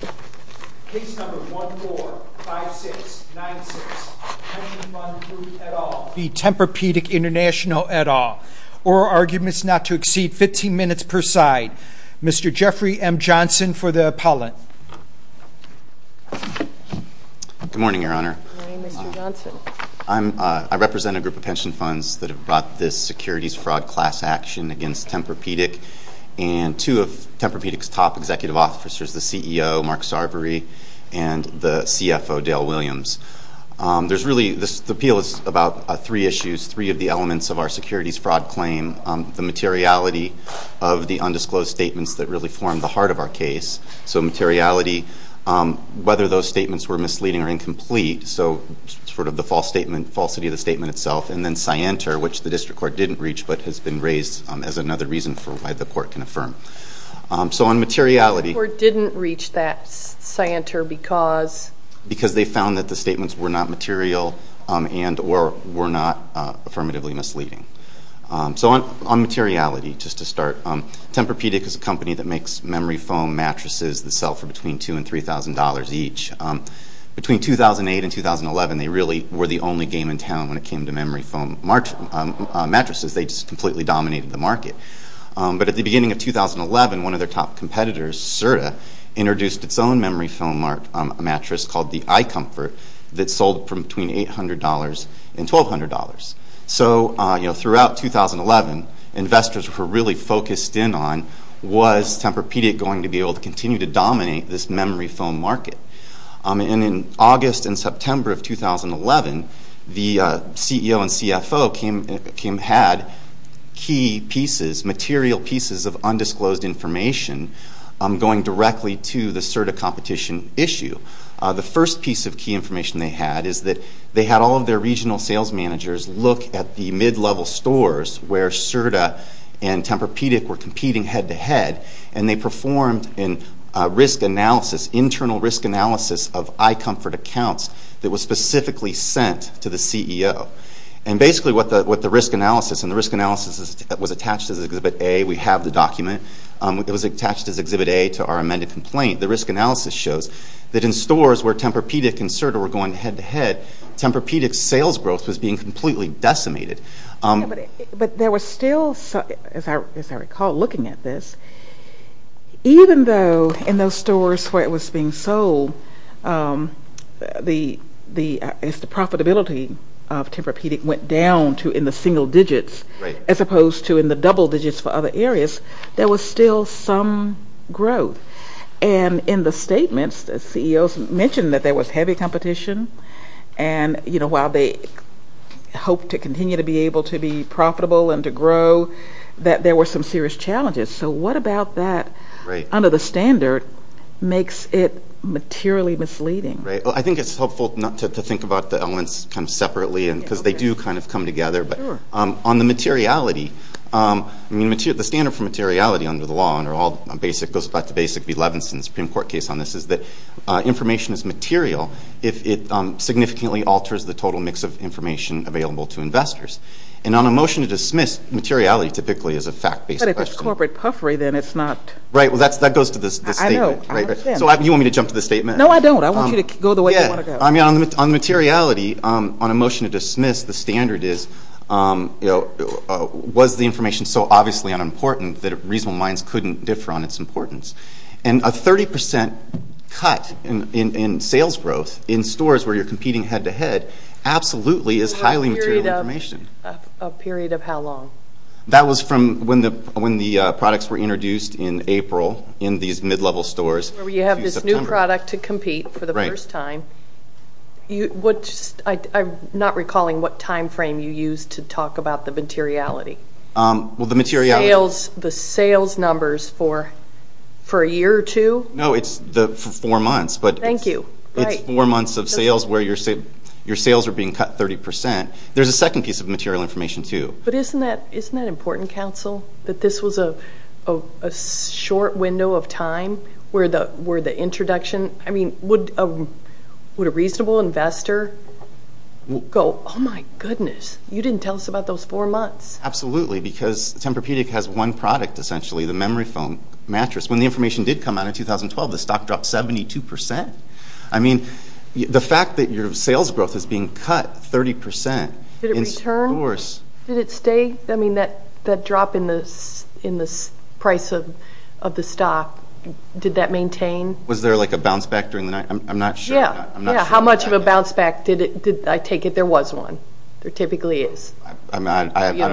Case No. 145696, Pension Fund Group et al. v. Tempur Pedic International et al. Or arguments not to exceed 15 minutes per side. Mr. Jeffrey M. Johnson for the appellant. Good morning, Your Honor. Good morning, Mr. Johnson. I represent a group of pension funds that have brought this securities fraud class action against Tempur Pedic. And two of Tempur Pedic's top executive officers, the CEO, Mark Sarvery, and the CFO, Dale Williams. There's really, the appeal is about three issues, three of the elements of our securities fraud claim. The materiality of the undisclosed statements that really form the heart of our case. So materiality, whether those statements were misleading or incomplete. So sort of the false statement, falsity of the statement itself. And then scienter, which the district court didn't reach but has been raised as another reason for why the court can affirm. So on materiality. The court didn't reach that scienter because? Because they found that the statements were not material and were not affirmatively misleading. So on materiality, just to start. Tempur Pedic is a company that makes memory foam mattresses that sell for between $2,000 and $3,000 each. Between 2008 and 2011, they really were the only game in town when it came to memory foam mattresses. They just completely dominated the market. But at the beginning of 2011, one of their top competitors, Serta, introduced its own memory foam mattress called the iComfort. That sold for between $800 and $1,200. So throughout 2011, investors were really focused in on was Tempur Pedic going to be able to continue to dominate this memory foam market? And in August and September of 2011, the CEO and CFO had key pieces, material pieces of undisclosed information going directly to the Serta competition issue. The first piece of key information they had is that they had all of their regional sales managers look at the mid-level stores where Serta and Tempur Pedic were competing head-to-head. And they performed an internal risk analysis of iComfort accounts that was specifically sent to the CEO. And basically what the risk analysis, and the risk analysis was attached as Exhibit A. We have the document. It was attached as Exhibit A to our amended complaint. The risk analysis shows that in stores where Tempur Pedic and Serta were going head-to-head, Tempur Pedic's sales growth was being completely decimated. But there was still, as I recall looking at this, even though in those stores where it was being sold, the profitability of Tempur Pedic went down to in the single digits as opposed to in the double digits for other areas, there was still some growth. And in the statements, the CEOs mentioned that there was heavy competition. And while they hoped to continue to be able to be profitable and to grow, that there were some serious challenges. So what about that under the standard makes it materially misleading? I think it's helpful not to think about the elements kind of separately because they do kind of come together. But on the materiality, the standard for materiality under the law, and it goes back to Basic v. Levinson's Supreme Court case on this, is that information is material if it significantly alters the total mix of information available to investors. And on a motion to dismiss, materiality typically is a fact-based question. But if it's corporate puffery, then it's not. Right. Well, that goes to the statement. I know. So you want me to jump to the statement? No, I don't. I want you to go the way you want to go. I mean, on materiality, on a motion to dismiss, the standard is, was the information so obviously unimportant that reasonable minds couldn't differ on its importance? And a 30% cut in sales growth in stores where you're competing head-to-head absolutely is highly material information. A period of how long? That was from when the products were introduced in April in these mid-level stores. You have this new product to compete for the first time. I'm not recalling what time frame you used to talk about the materiality. Well, the materiality. The sales numbers for a year or two? No, it's for four months. Thank you. It's four months of sales where your sales are being cut 30%. There's a second piece of material information, too. But isn't that important, counsel, that this was a short window of time where the introduction? I mean, would a reasonable investor go, oh, my goodness, you didn't tell us about those four months? Absolutely, because Tempur-Pedic has one product, essentially, the memory foam mattress. When the information did come out in 2012, the stock dropped 72%. I mean, the fact that your sales growth is being cut 30% in stores. Did it stay? I mean, that drop in the price of the stock, did that maintain? Was there, like, a bounce back during the night? I'm not sure. Yeah, how much of a bounce back did it? I take it there was one. There typically is. I don't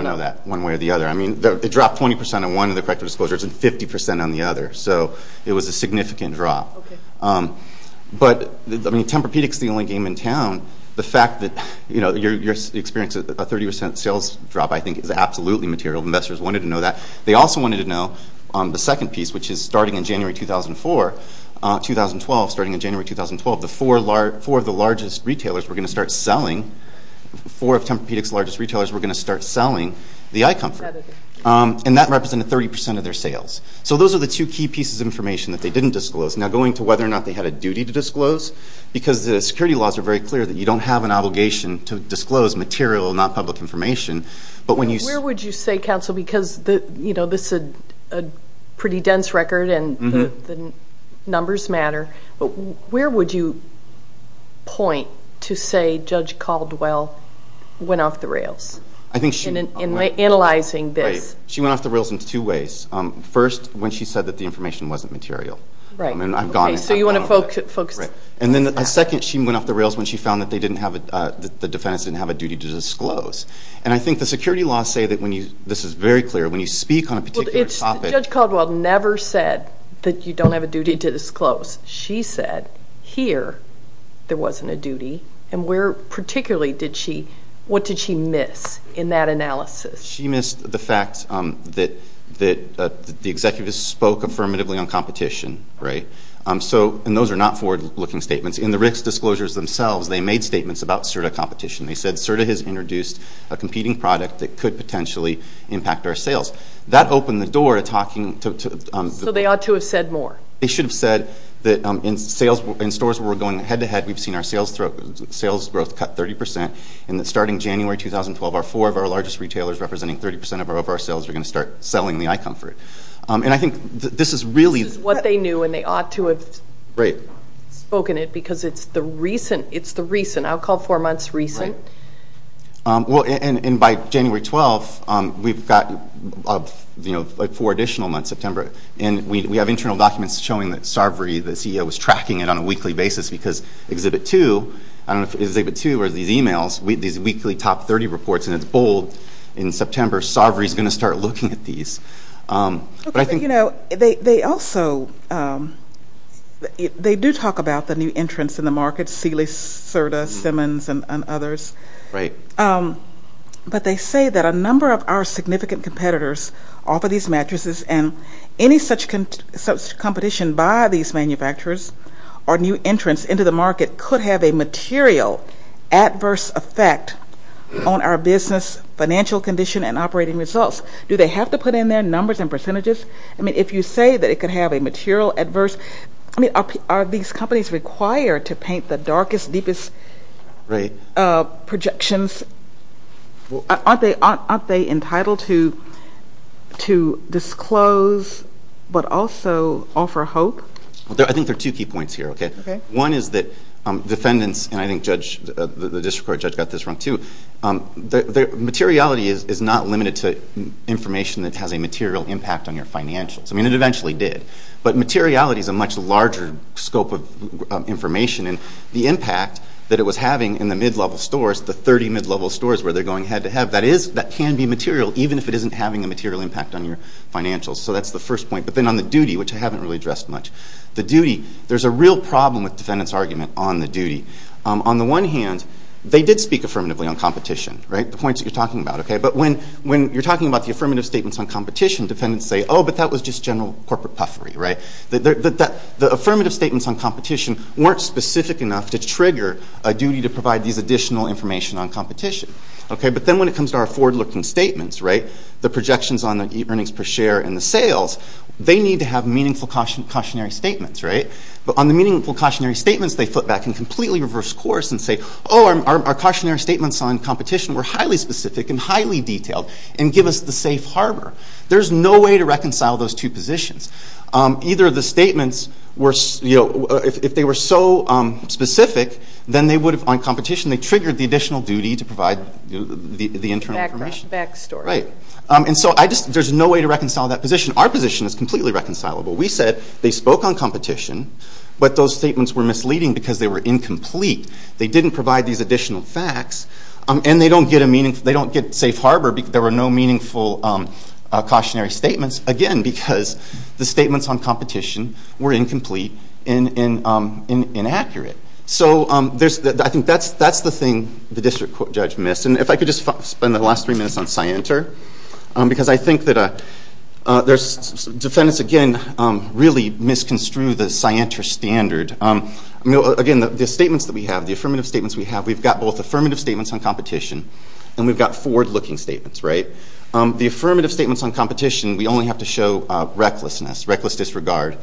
know that one way or the other. I mean, it dropped 20% on one of the corrective disclosures and 50% on the other. So it was a significant drop. But, I mean, Tempur-Pedic is the only game in town. The fact that you're experiencing a 30% sales drop, I think, is absolutely material. Investors wanted to know that. They also wanted to know the second piece, which is starting in January 2012, the four of the largest retailers were going to start selling the iComfort. And that represented 30% of their sales. So those are the two key pieces of information that they didn't disclose. Because the security laws are very clear that you don't have an obligation to disclose material, not public information. Where would you say, counsel, because this is a pretty dense record and the numbers matter, where would you point to say Judge Caldwell went off the rails in analyzing this? She went off the rails in two ways. First, when she said that the information wasn't material. So you want to focus. Right. And then a second, she went off the rails when she found that the defendants didn't have a duty to disclose. And I think the security laws say that when you, this is very clear, when you speak on a particular topic. Judge Caldwell never said that you don't have a duty to disclose. She said, here, there wasn't a duty. And where particularly did she, what did she miss in that analysis? She missed the fact that the executives spoke affirmatively on competition. Right. So, and those are not forward-looking statements. In the Rick's disclosures themselves, they made statements about CERDA competition. They said CERDA has introduced a competing product that could potentially impact our sales. That opened the door to talking. So they ought to have said more. They should have said that in stores where we're going head-to-head, we've seen our sales growth cut 30 percent. And that starting January 2012, our four of our largest retailers, representing 30 percent of our sales, are going to start selling the iComfort. And I think this is really. This is what they knew, and they ought to have spoken it because it's the recent, it's the recent. I'll call four months recent. Right. Well, and by January 12th, we've got, you know, four additional months, September. And we have internal documents showing that Sarvery, the CEO, was tracking it on a weekly basis because Exhibit 2, I don't know if it's Exhibit 2 or these e-mails, these weekly top 30 reports, and it's bold in September, Sarvery's going to start looking at these. But I think. But, you know, they also, they do talk about the new entrants in the market, Sealy, CERDA, Simmons, and others. Right. But they say that a number of our significant competitors offer these mattresses, and any such competition by these manufacturers or new entrants into the market could have a material adverse effect on our business financial condition and operating results. Do they have to put in their numbers and percentages? I mean, if you say that it could have a material adverse, I mean, are these companies required to paint the darkest, deepest projections? Aren't they entitled to disclose but also offer hope? I think there are two key points here, okay? Okay. One is that defendants, and I think the district court judge got this wrong too, materiality is not limited to information that has a material impact on your financials. I mean, it eventually did. But materiality is a much larger scope of information, and the impact that it was having in the mid-level stores, the 30 mid-level stores where they're going head-to-head, that can be material even if it isn't having a material impact on your financials. So that's the first point. But then on the duty, which I haven't really addressed much, the duty, there's a real problem with defendants' argument on the duty. On the one hand, they did speak affirmatively on competition, right? The points that you're talking about, okay? But when you're talking about the affirmative statements on competition, defendants say, oh, but that was just general corporate puffery, right? The affirmative statements on competition weren't specific enough to trigger a duty to provide these additional information on competition, okay? But then when it comes to our forward-looking statements, right, the projections on the earnings per share and the sales, they need to have meaningful cautionary statements, right? But on the meaningful cautionary statements, they flip back and completely reverse course and say, oh, our cautionary statements on competition were highly specific and highly detailed and give us the safe harbor. There's no way to reconcile those two positions. Either of the statements were, you know, if they were so specific, then they would have, on competition, they triggered the additional duty to provide the internal information. Back story. Right. And so I just, there's no way to reconcile that position. Our position is completely reconcilable. We said they spoke on competition, but those statements were misleading because they were incomplete. They didn't provide these additional facts, and they don't get a meaningful, they don't get safe harbor because there were no meaningful cautionary statements, again, because the statements on competition were incomplete and inaccurate. So there's, I think that's the thing the district court judge missed. And if I could just spend the last three minutes on scienter, because I think that there's, defendants, again, really misconstrued the scienter standard. Again, the statements that we have, the affirmative statements we have, we've got both affirmative statements on competition and we've got forward-looking statements, right? The affirmative statements on competition, we only have to show recklessness, reckless disregard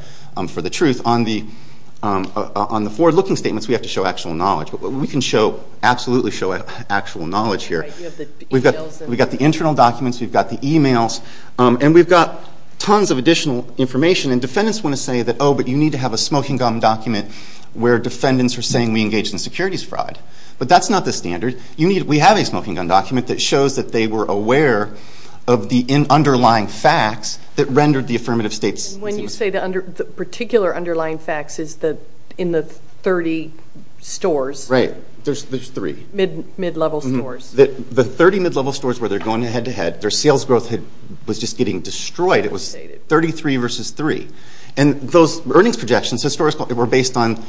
for the truth. On the forward-looking statements, we have to show actual knowledge. But we can show, absolutely show actual knowledge here. We've got the internal documents, we've got the emails, and we've got tons of additional information. And defendants want to say that, oh, but you need to have a smoking gun document where defendants are saying we engaged in securities fraud. But that's not the standard. We have a smoking gun document that shows that they were aware of the underlying facts that rendered the affirmative statements. And when you say the particular underlying facts is in the 30 stores. Right. There's three. Mid-level stores. The 30 mid-level stores where they're going head-to-head, their sales growth was just getting destroyed. It was 33 versus 3. And those earnings projections were based on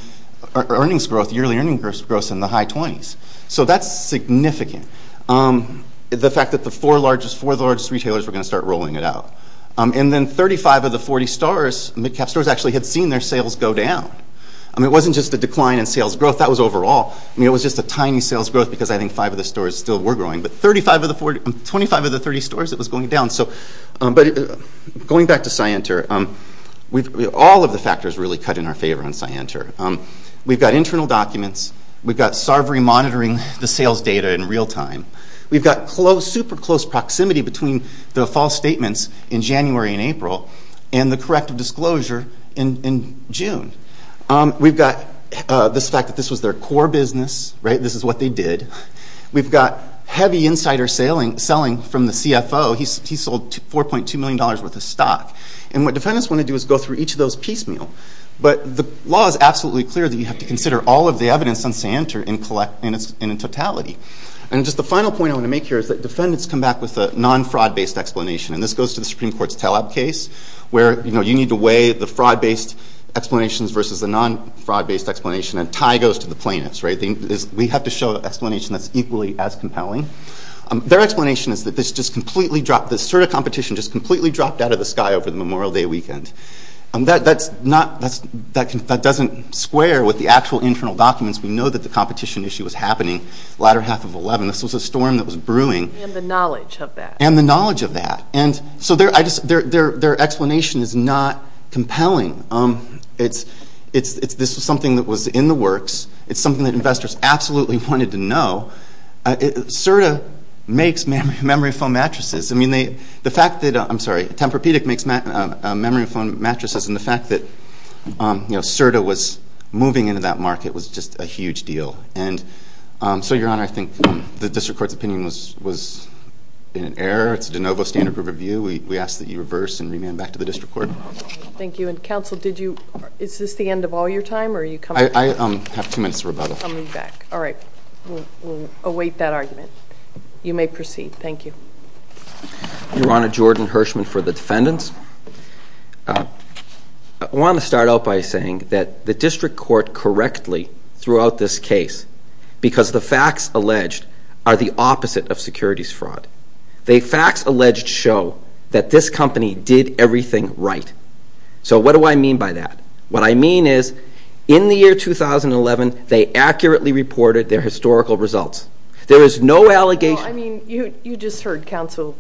earnings growth, yearly earnings growth in the high 20s. So that's significant. The fact that the four largest retailers were going to start rolling it out. And then 35 of the 40 mid-cap stores actually had seen their sales go down. I mean, it wasn't just a decline in sales growth, that was overall. I mean, it was just a tiny sales growth because I think five of the stores still were growing. But 25 of the 30 stores, it was going down. But going back to SciEnter, all of the factors really cut in our favor on SciEnter. We've got internal documents. We've got Sarvery monitoring the sales data in real time. We've got super close proximity between the false statements in January and April and the corrective disclosure in June. We've got this fact that this was their core business. This is what they did. We've got heavy insider selling from the CFO. He sold $4.2 million worth of stock. And what defendants want to do is go through each of those piecemeal. But the law is absolutely clear that you have to consider all of the evidence on SciEnter in totality. And just the final point I want to make here is that defendants come back with a non-fraud-based explanation. And this goes to the Supreme Court's Taleb case, where you need to weigh the fraud-based explanations versus the non-fraud-based explanation. And a tie goes to the plaintiffs. We have to show an explanation that's equally as compelling. Their explanation is that the SIRDA competition just completely dropped out of the sky over the Memorial Day weekend. That doesn't square with the actual internal documents. We know that the competition issue was happening the latter half of 2011. This was a storm that was brewing. And the knowledge of that. And the knowledge of that. And so their explanation is not compelling. This was something that was in the works. It's something that investors absolutely wanted to know. SIRDA makes memory foam mattresses. I'm sorry. Tempur-Pedic makes memory foam mattresses. And the fact that SIRDA was moving into that market was just a huge deal. So, Your Honor, I think the district court's opinion was in error. It's a de novo standard of review. We ask that you reverse and remand back to the district court. Thank you. And, counsel, is this the end of all your time? I have two minutes to rebuttal. All right. We'll await that argument. You may proceed. Thank you. Your Honor, Jordan Hirschman for the defendants. I want to start out by saying that the district court correctly threw out this case because the facts alleged are the opposite of securities fraud. The facts alleged show that this company did everything right. So what do I mean by that? What I mean is, in the year 2011, they accurately reported their historical results. There is no allegation. I mean, you just heard counsel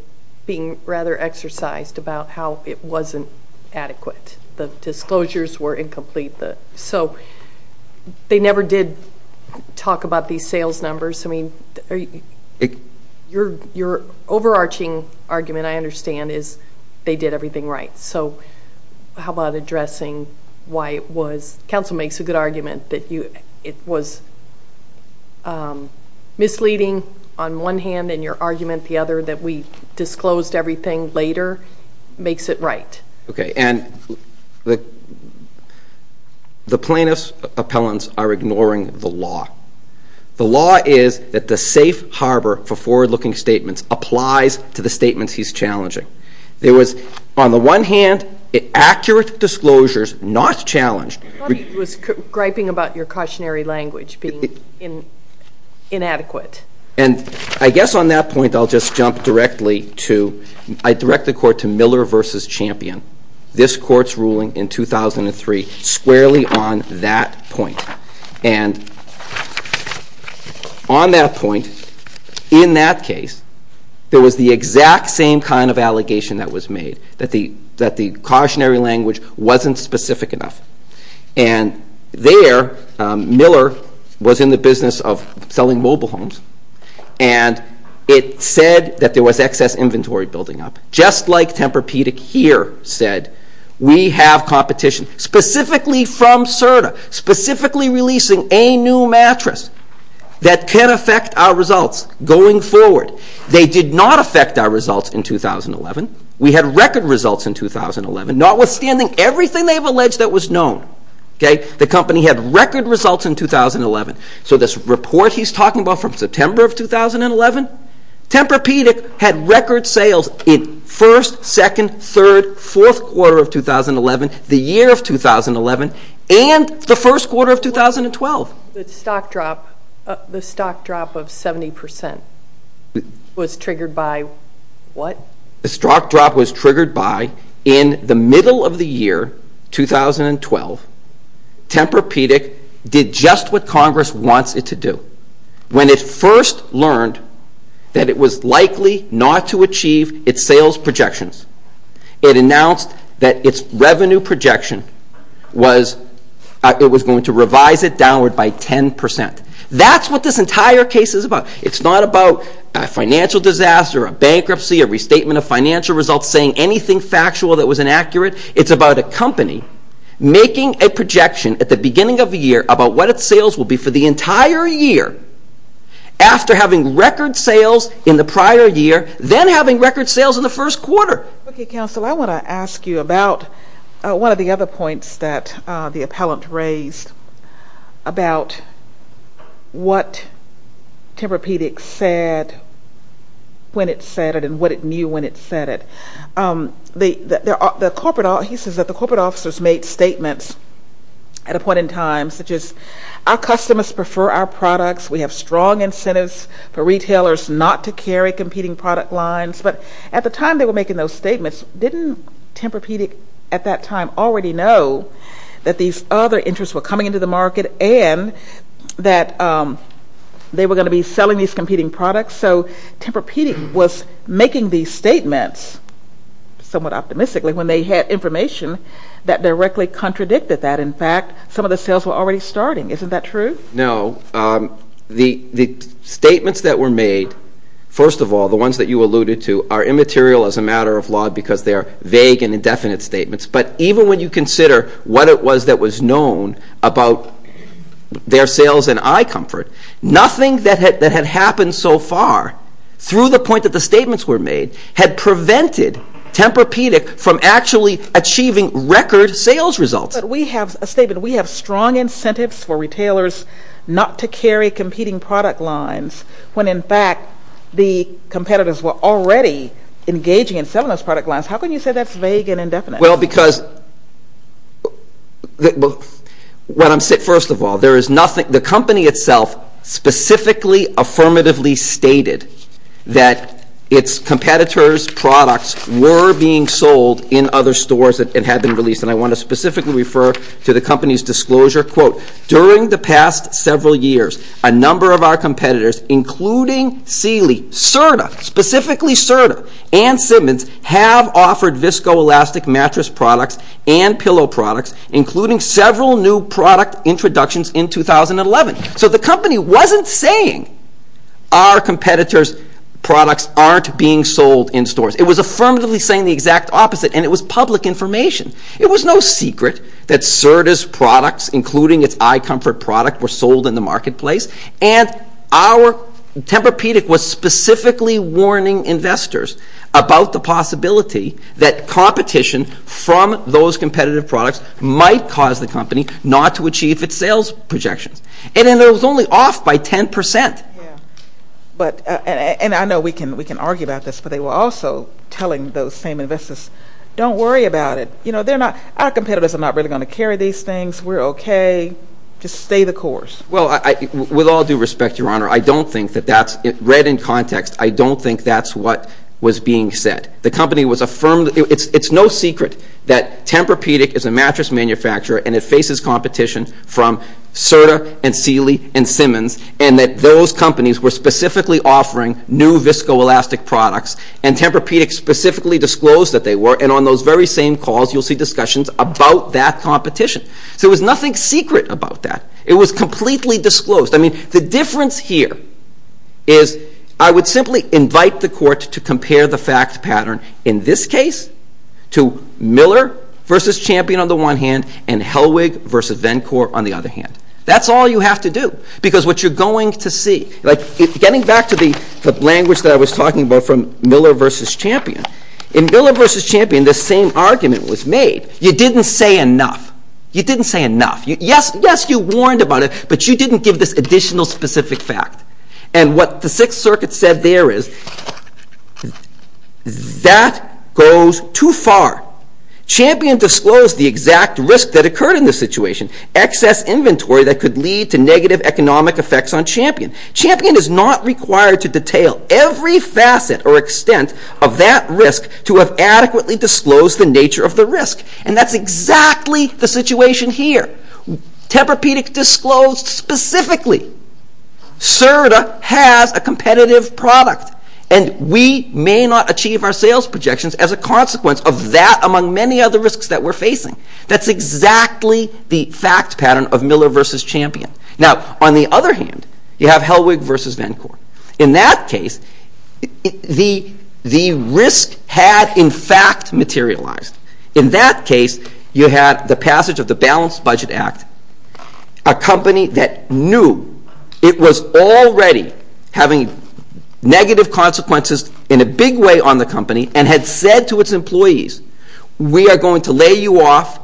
being rather exercised about how it wasn't adequate. The disclosures were incomplete. So they never did talk about these sales numbers. I mean, your overarching argument, I understand, is they did everything right. So how about addressing why it was? Counsel makes a good argument that it was misleading on one hand, and your argument the other, that we disclosed everything later, makes it right. Okay, and the plaintiff's appellants are ignoring the law. The law is that the safe harbor for forward-looking statements applies to the statements he's challenging. There was, on the one hand, accurate disclosures not challenged. I thought he was griping about your cautionary language being inadequate. And I guess on that point I'll just jump directly to, I direct the court to Miller v. Champion, this court's ruling in 2003 squarely on that point. And on that point, in that case, there was the exact same kind of allegation that was made, that the cautionary language wasn't specific enough. And there, Miller was in the business of selling mobile homes, and it said that there was excess inventory building up, just like Tempur-Pedic here said, we have competition specifically from CERTA, specifically releasing a new mattress that can affect our results going forward. They did not affect our results in 2011. We had record results in 2011, notwithstanding everything they've alleged that was known. The company had record results in 2011. So this report he's talking about from September of 2011, Tempur-Pedic had record sales in first, second, third, fourth quarter of 2011, the year of 2011, and the first quarter of 2012. The stock drop of 70 percent was triggered by what? The stock drop was triggered by, in the middle of the year, 2012, Tempur-Pedic did just what Congress wants it to do. When it first learned that it was likely not to achieve its sales projections, it announced that its revenue projection was going to revise it downward by 10 percent. That's what this entire case is about. It's not about a financial disaster, a bankruptcy, a restatement of financial results, saying anything factual that was inaccurate. It's about a company making a projection at the beginning of the year about what its sales will be for the entire year, after having record sales in the prior year, then having record sales in the first quarter. Okay, counsel, I want to ask you about one of the other points that the appellant raised about what Tempur-Pedic said when it said it and what it knew when it said it. He says that the corporate officers made statements at a point in time, such as, our customers prefer our products. We have strong incentives for retailers not to carry competing product lines. But at the time they were making those statements, didn't Tempur-Pedic at that time already know that these other interests were coming into the market and that they were going to be selling these competing products? So Tempur-Pedic was making these statements somewhat optimistically when they had information that directly contradicted that. In fact, some of the sales were already starting. Isn't that true? No. The statements that were made, first of all, the ones that you alluded to, are immaterial as a matter of law because they are vague and indefinite statements. But even when you consider what it was that was known about their sales and eye comfort, nothing that had happened so far, through the point that the statements were made, had prevented Tempur-Pedic from actually achieving record sales results. But we have a statement, we have strong incentives for retailers not to carry competing product lines when in fact the competitors were already engaging in selling those product lines. How can you say that's vague and indefinite? Well, because, first of all, the company itself specifically affirmatively stated that its competitors' products were being sold in other stores and had been released. And I want to specifically refer to the company's disclosure, quote, during the past several years, a number of our competitors, including Sealy, Serta, specifically Serta, and Simmons, have offered viscoelastic mattress products and pillow products, including several new product introductions in 2011. So the company wasn't saying our competitors' products aren't being sold in stores. It was affirmatively saying the exact opposite, and it was public information. It was no secret that Serta's products, including its eye comfort product, were sold in the marketplace. And our Tempur-Pedic was specifically warning investors about the possibility that competition from those competitive products might cause the company not to achieve its sales projections. And it was only off by 10 percent. And I know we can argue about this, but they were also telling those same investors, don't worry about it. Our competitors are not really going to carry these things. We're okay. Just stay the course. Well, with all due respect, Your Honor, I don't think that that's – read in context, I don't think that's what was being said. The company was affirming – it's no secret that Tempur-Pedic is a mattress manufacturer and it faces competition from Serta and Sealy and Simmons, and that those companies were specifically offering new viscoelastic products, and Tempur-Pedic specifically disclosed that they were. And on those very same calls, you'll see discussions about that competition. So there was nothing secret about that. It was completely disclosed. I mean, the difference here is I would simply invite the court to compare the fact pattern, in this case, to Miller v. Champion on the one hand and Hellwig v. Vencore on the other hand. That's all you have to do, because what you're going to see – like, getting back to the language that I was talking about from Miller v. Champion, in Miller v. Champion, the same argument was made. You didn't say enough. You didn't say enough. Yes, you warned about it, but you didn't give this additional specific fact. And what the Sixth Circuit said there is, that goes too far. Champion disclosed the exact risk that occurred in this situation, excess inventory that could lead to negative economic effects on Champion. Champion is not required to detail every facet or extent of that risk to have adequately disclosed the nature of the risk. And that's exactly the situation here. Tempur-Pedic disclosed specifically CERDA has a competitive product, and we may not achieve our sales projections as a consequence of that, among many other risks that we're facing. That's exactly the fact pattern of Miller v. Champion. Now, on the other hand, you have Hellwig v. Vencore. In that case, the risk had, in fact, materialized. In that case, you had the passage of the Balanced Budget Act, a company that knew it was already having negative consequences in a big way on the company, and had said to its employees, we are going to lay you off,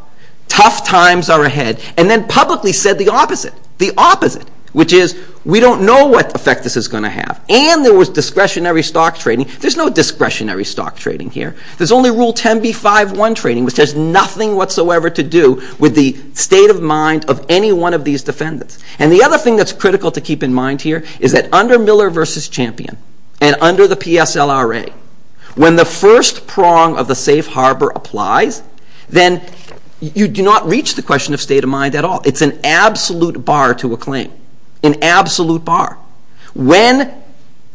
tough times are ahead, and then publicly said the opposite, the opposite, which is, we don't know what effect this is going to have. And there was discretionary stock trading. There's no discretionary stock trading here. There's only Rule 10b-5-1 trading, which has nothing whatsoever to do with the state of mind of any one of these defendants. And the other thing that's critical to keep in mind here is that under Miller v. Champion, and under the PSLRA, when the first prong of the safe harbor applies, then you do not reach the question of state of mind at all. It's an absolute bar to a claim, an absolute bar. When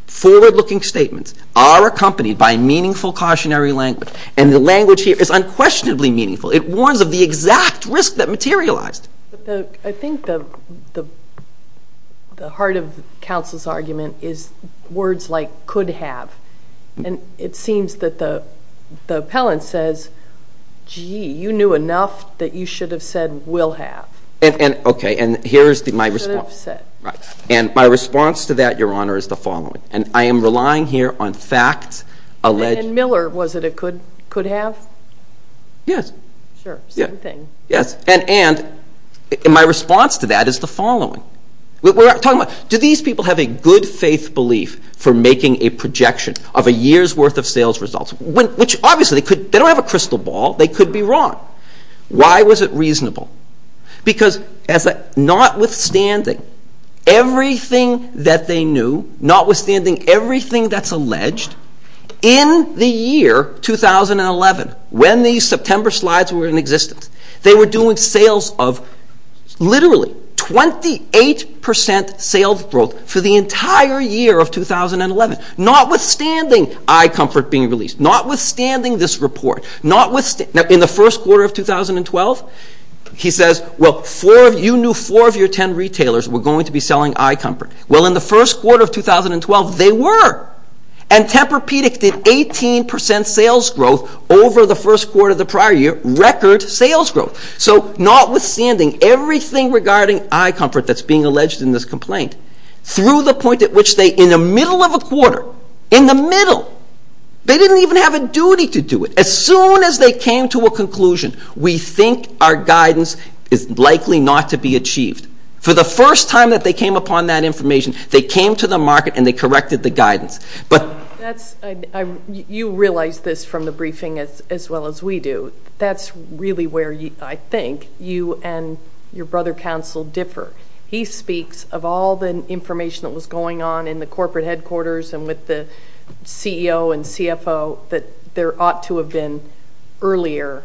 forward-looking statements are accompanied by meaningful cautionary language, and the language here is unquestionably meaningful, it warns of the exact risk that materialized. I think the heart of counsel's argument is words like could have. And it seems that the appellant says, gee, you knew enough that you should have said will have. Okay, and here's my response. Should have said. Right. And my response to that, Your Honor, is the following. And I am relying here on facts alleged. And in Miller, was it a could have? Yes. Sure, same thing. Yes. And my response to that is the following. We're talking about do these people have a good-faith belief for making a projection of a year's worth of sales results, which obviously they don't have a crystal ball. They could be wrong. Why was it reasonable? Because notwithstanding everything that they knew, notwithstanding everything that's alleged, in the year 2011, when these September slides were in existence, they were doing sales of literally 28% sales growth for the entire year of 2011, notwithstanding iComfort being released, notwithstanding this report. Now, in the first quarter of 2012, he says, well, you knew four of your ten retailers were going to be selling iComfort. Well, in the first quarter of 2012, they were. And Tempur-Pedic did 18% sales growth over the first quarter of the prior year, record sales growth. So notwithstanding everything regarding iComfort that's being alleged in this complaint, through the point at which they, in the middle of a quarter, in the middle, they didn't even have a duty to do it. As soon as they came to a conclusion, we think our guidance is likely not to be achieved. For the first time that they came upon that information, they came to the market and they corrected the guidance. You realize this from the briefing as well as we do. That's really where I think you and your brother counsel differ. He speaks of all the information that was going on in the corporate headquarters and with the CEO and CFO, that there ought to have been earlier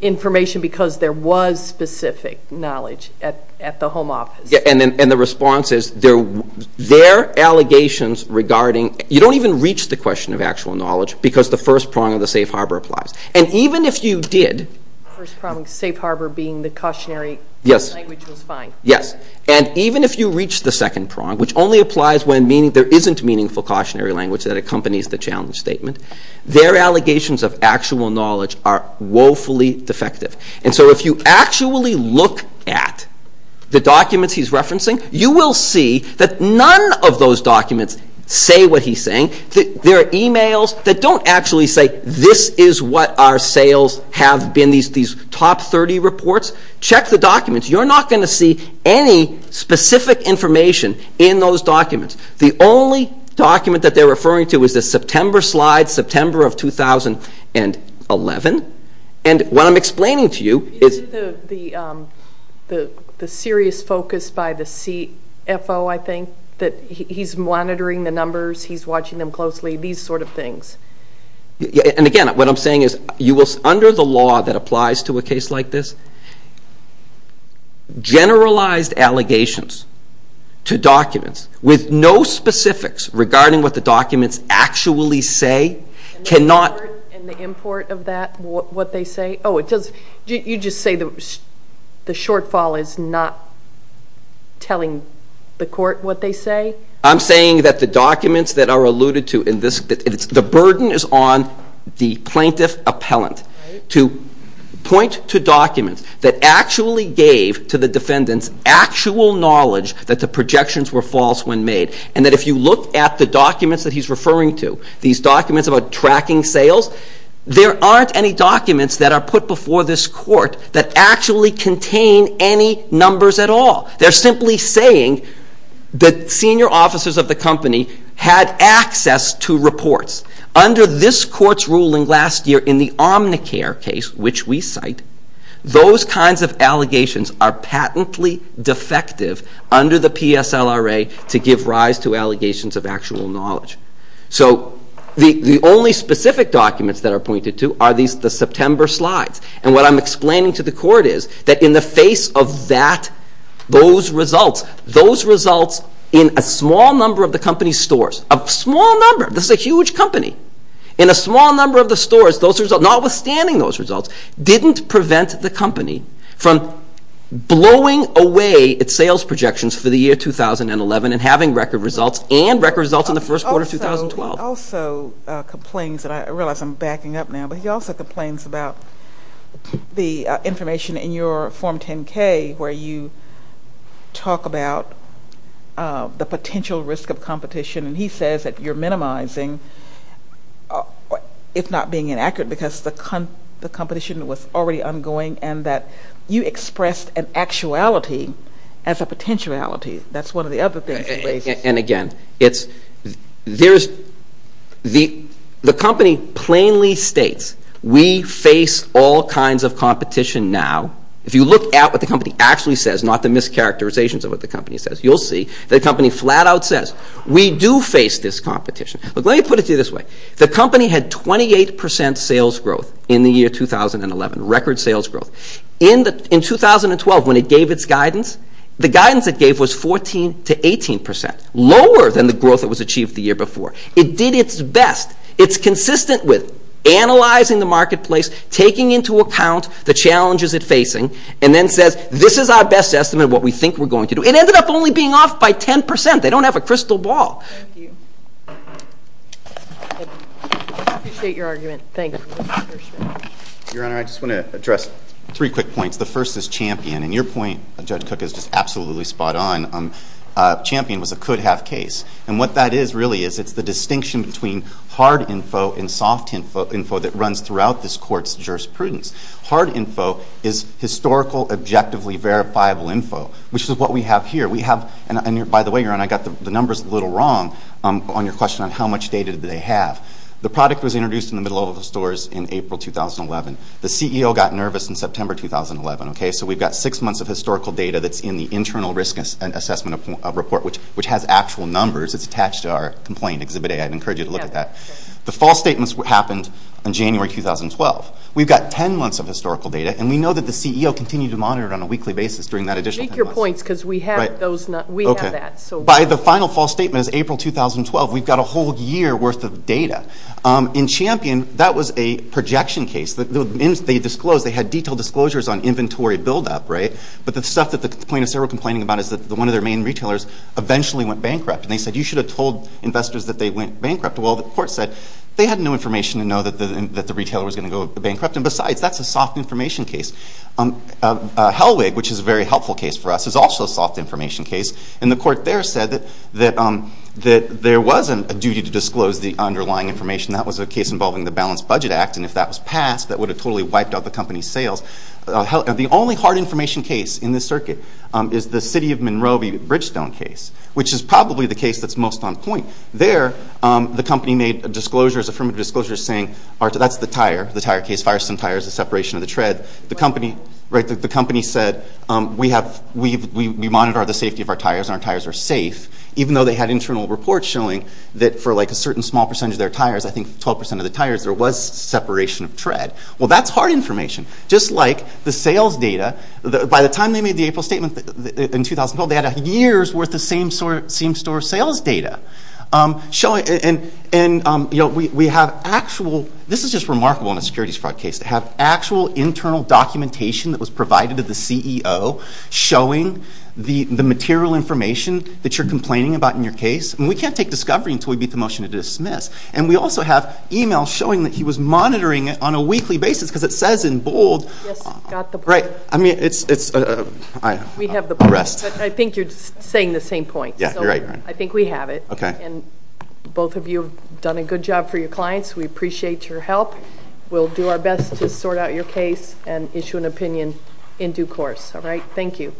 information because there was specific knowledge at the home office. And the response is, their allegations regarding, you don't even reach the question of actual knowledge because the first prong of the safe harbor applies. And even if you did. The first prong of the safe harbor being the cautionary language was fine. Yes. And even if you reach the second prong, which only applies when there isn't meaningful cautionary language that accompanies the challenge statement, their allegations of actual knowledge are woefully defective. And so if you actually look at the documents he's referencing, you will see that none of those documents say what he's saying. There are emails that don't actually say, this is what our sales have been, these top 30 reports. Check the documents. You're not going to see any specific information in those documents. The only document that they're referring to is the September slide, September of 2011. And what I'm explaining to you is... The serious focus by the CFO, I think, that he's monitoring the numbers, he's watching them closely, these sort of things. And again, what I'm saying is, under the law that applies to a case like this, generalized allegations to documents with no specifics regarding what the documents actually say cannot... And the import of that, what they say? Oh, you just say the shortfall is not telling the court what they say? I'm saying that the documents that are alluded to in this... The burden is on the plaintiff appellant to point to documents that actually gave to the defendant's actual knowledge that the projections were false when made. And that if you look at the documents that he's referring to, these documents about tracking sales, there aren't any documents that are put before this court that actually contain any numbers at all. They're simply saying that senior officers of the company had access to reports. Under this court's ruling last year in the Omnicare case, which we cite, those kinds of allegations are patently defective under the PSLRA to give rise to allegations of actual knowledge. So the only specific documents that are pointed to are the September slides. And what I'm explaining to the court is that in the face of that, those results, those results in a small number of the company's stores, a small number, this is a huge company, in a small number of the stores, those results, notwithstanding those results, didn't prevent the company from blowing away its sales projections for the year 2011 and having record results and record results in the first quarter of 2012. He also complains, and I realize I'm backing up now, but he also complains about the information in your Form 10-K where you talk about the potential risk of competition. And he says that you're minimizing, if not being inaccurate, because the competition was already ongoing and that you expressed an actuality as a potentiality. That's one of the other things. And again, the company plainly states, we face all kinds of competition now. If you look at what the company actually says, not the mischaracterizations of what the company says, you'll see the company flat out says, we do face this competition. Look, let me put it to you this way. The company had 28 percent sales growth in the year 2011, record sales growth. In 2012, when it gave its guidance, the guidance it gave was 14 to 18 percent, lower than the growth that was achieved the year before. It did its best. It's consistent with analyzing the marketplace, taking into account the challenges it's facing, and then says, this is our best estimate of what we think we're going to do. It ended up only being off by 10 percent. They don't have a crystal ball. Thank you. I appreciate your argument. Thank you. Your Honor, I just want to address three quick points. The first is Champion. And your point, Judge Cook, is just absolutely spot on. Champion was a could-have case. And what that is really is it's the distinction between hard info and soft info that runs throughout this Court's jurisprudence. Hard info is historical, objectively verifiable info, which is what we have here. We have, and by the way, Your Honor, I got the numbers a little wrong on your question on how much data do they have. The product was introduced in the middle of the stores in April 2011. The CEO got nervous in September 2011. So we've got six months of historical data that's in the internal risk assessment report, which has actual numbers. It's attached to our complaint Exhibit A. I'd encourage you to look at that. The false statements happened in January 2012. We've got 10 months of historical data, and we know that the CEO continued to monitor it on a weekly basis during that additional 10 months. Make your points because we have that. By the final false statement is April 2012. We've got a whole year worth of data. In Champion, that was a projection case. They disclosed they had detailed disclosures on inventory buildup, right? But the stuff that the plaintiffs are complaining about is that one of their main retailers eventually went bankrupt, and they said you should have told investors that they went bankrupt. Well, the Court said they had no information to know that the retailer was going to go bankrupt. And besides, that's a soft information case. Helwig, which is a very helpful case for us, is also a soft information case. And the Court there said that there wasn't a duty to disclose the underlying information. That was a case involving the Balanced Budget Act. And if that was passed, that would have totally wiped out the company's sales. The only hard information case in this circuit is the City of Monroe v. Bridgestone case, which is probably the case that's most on point. There, the company made disclosures, affirmative disclosures, saying that's the tire, the tire case, firesome tires, the separation of the tread. The company said we monitor the safety of our tires, and our tires are safe, even though they had internal reports showing that for a certain small percentage of their tires, I think 12% of the tires, there was separation of tread. Well, that's hard information. Just like the sales data, by the time they made the April statement in 2012, they had a year's worth of same-store sales data. And we have actual, this is just remarkable in a securities fraud case, to have actual internal documentation that was provided to the CEO showing the material information that you're complaining about in your case. And we can't take discovery until we beat the motion to dismiss. And we also have e-mails showing that he was monitoring it on a weekly basis because it says in bold. Yes, got the point. Right. I mean, it's a rest. We have the point, but I think you're saying the same point. Yeah, you're right. I think we have it. Okay. And both of you have done a good job for your clients. We appreciate your help. We'll do our best to sort out your case and issue an opinion in due course. All right. Thank you.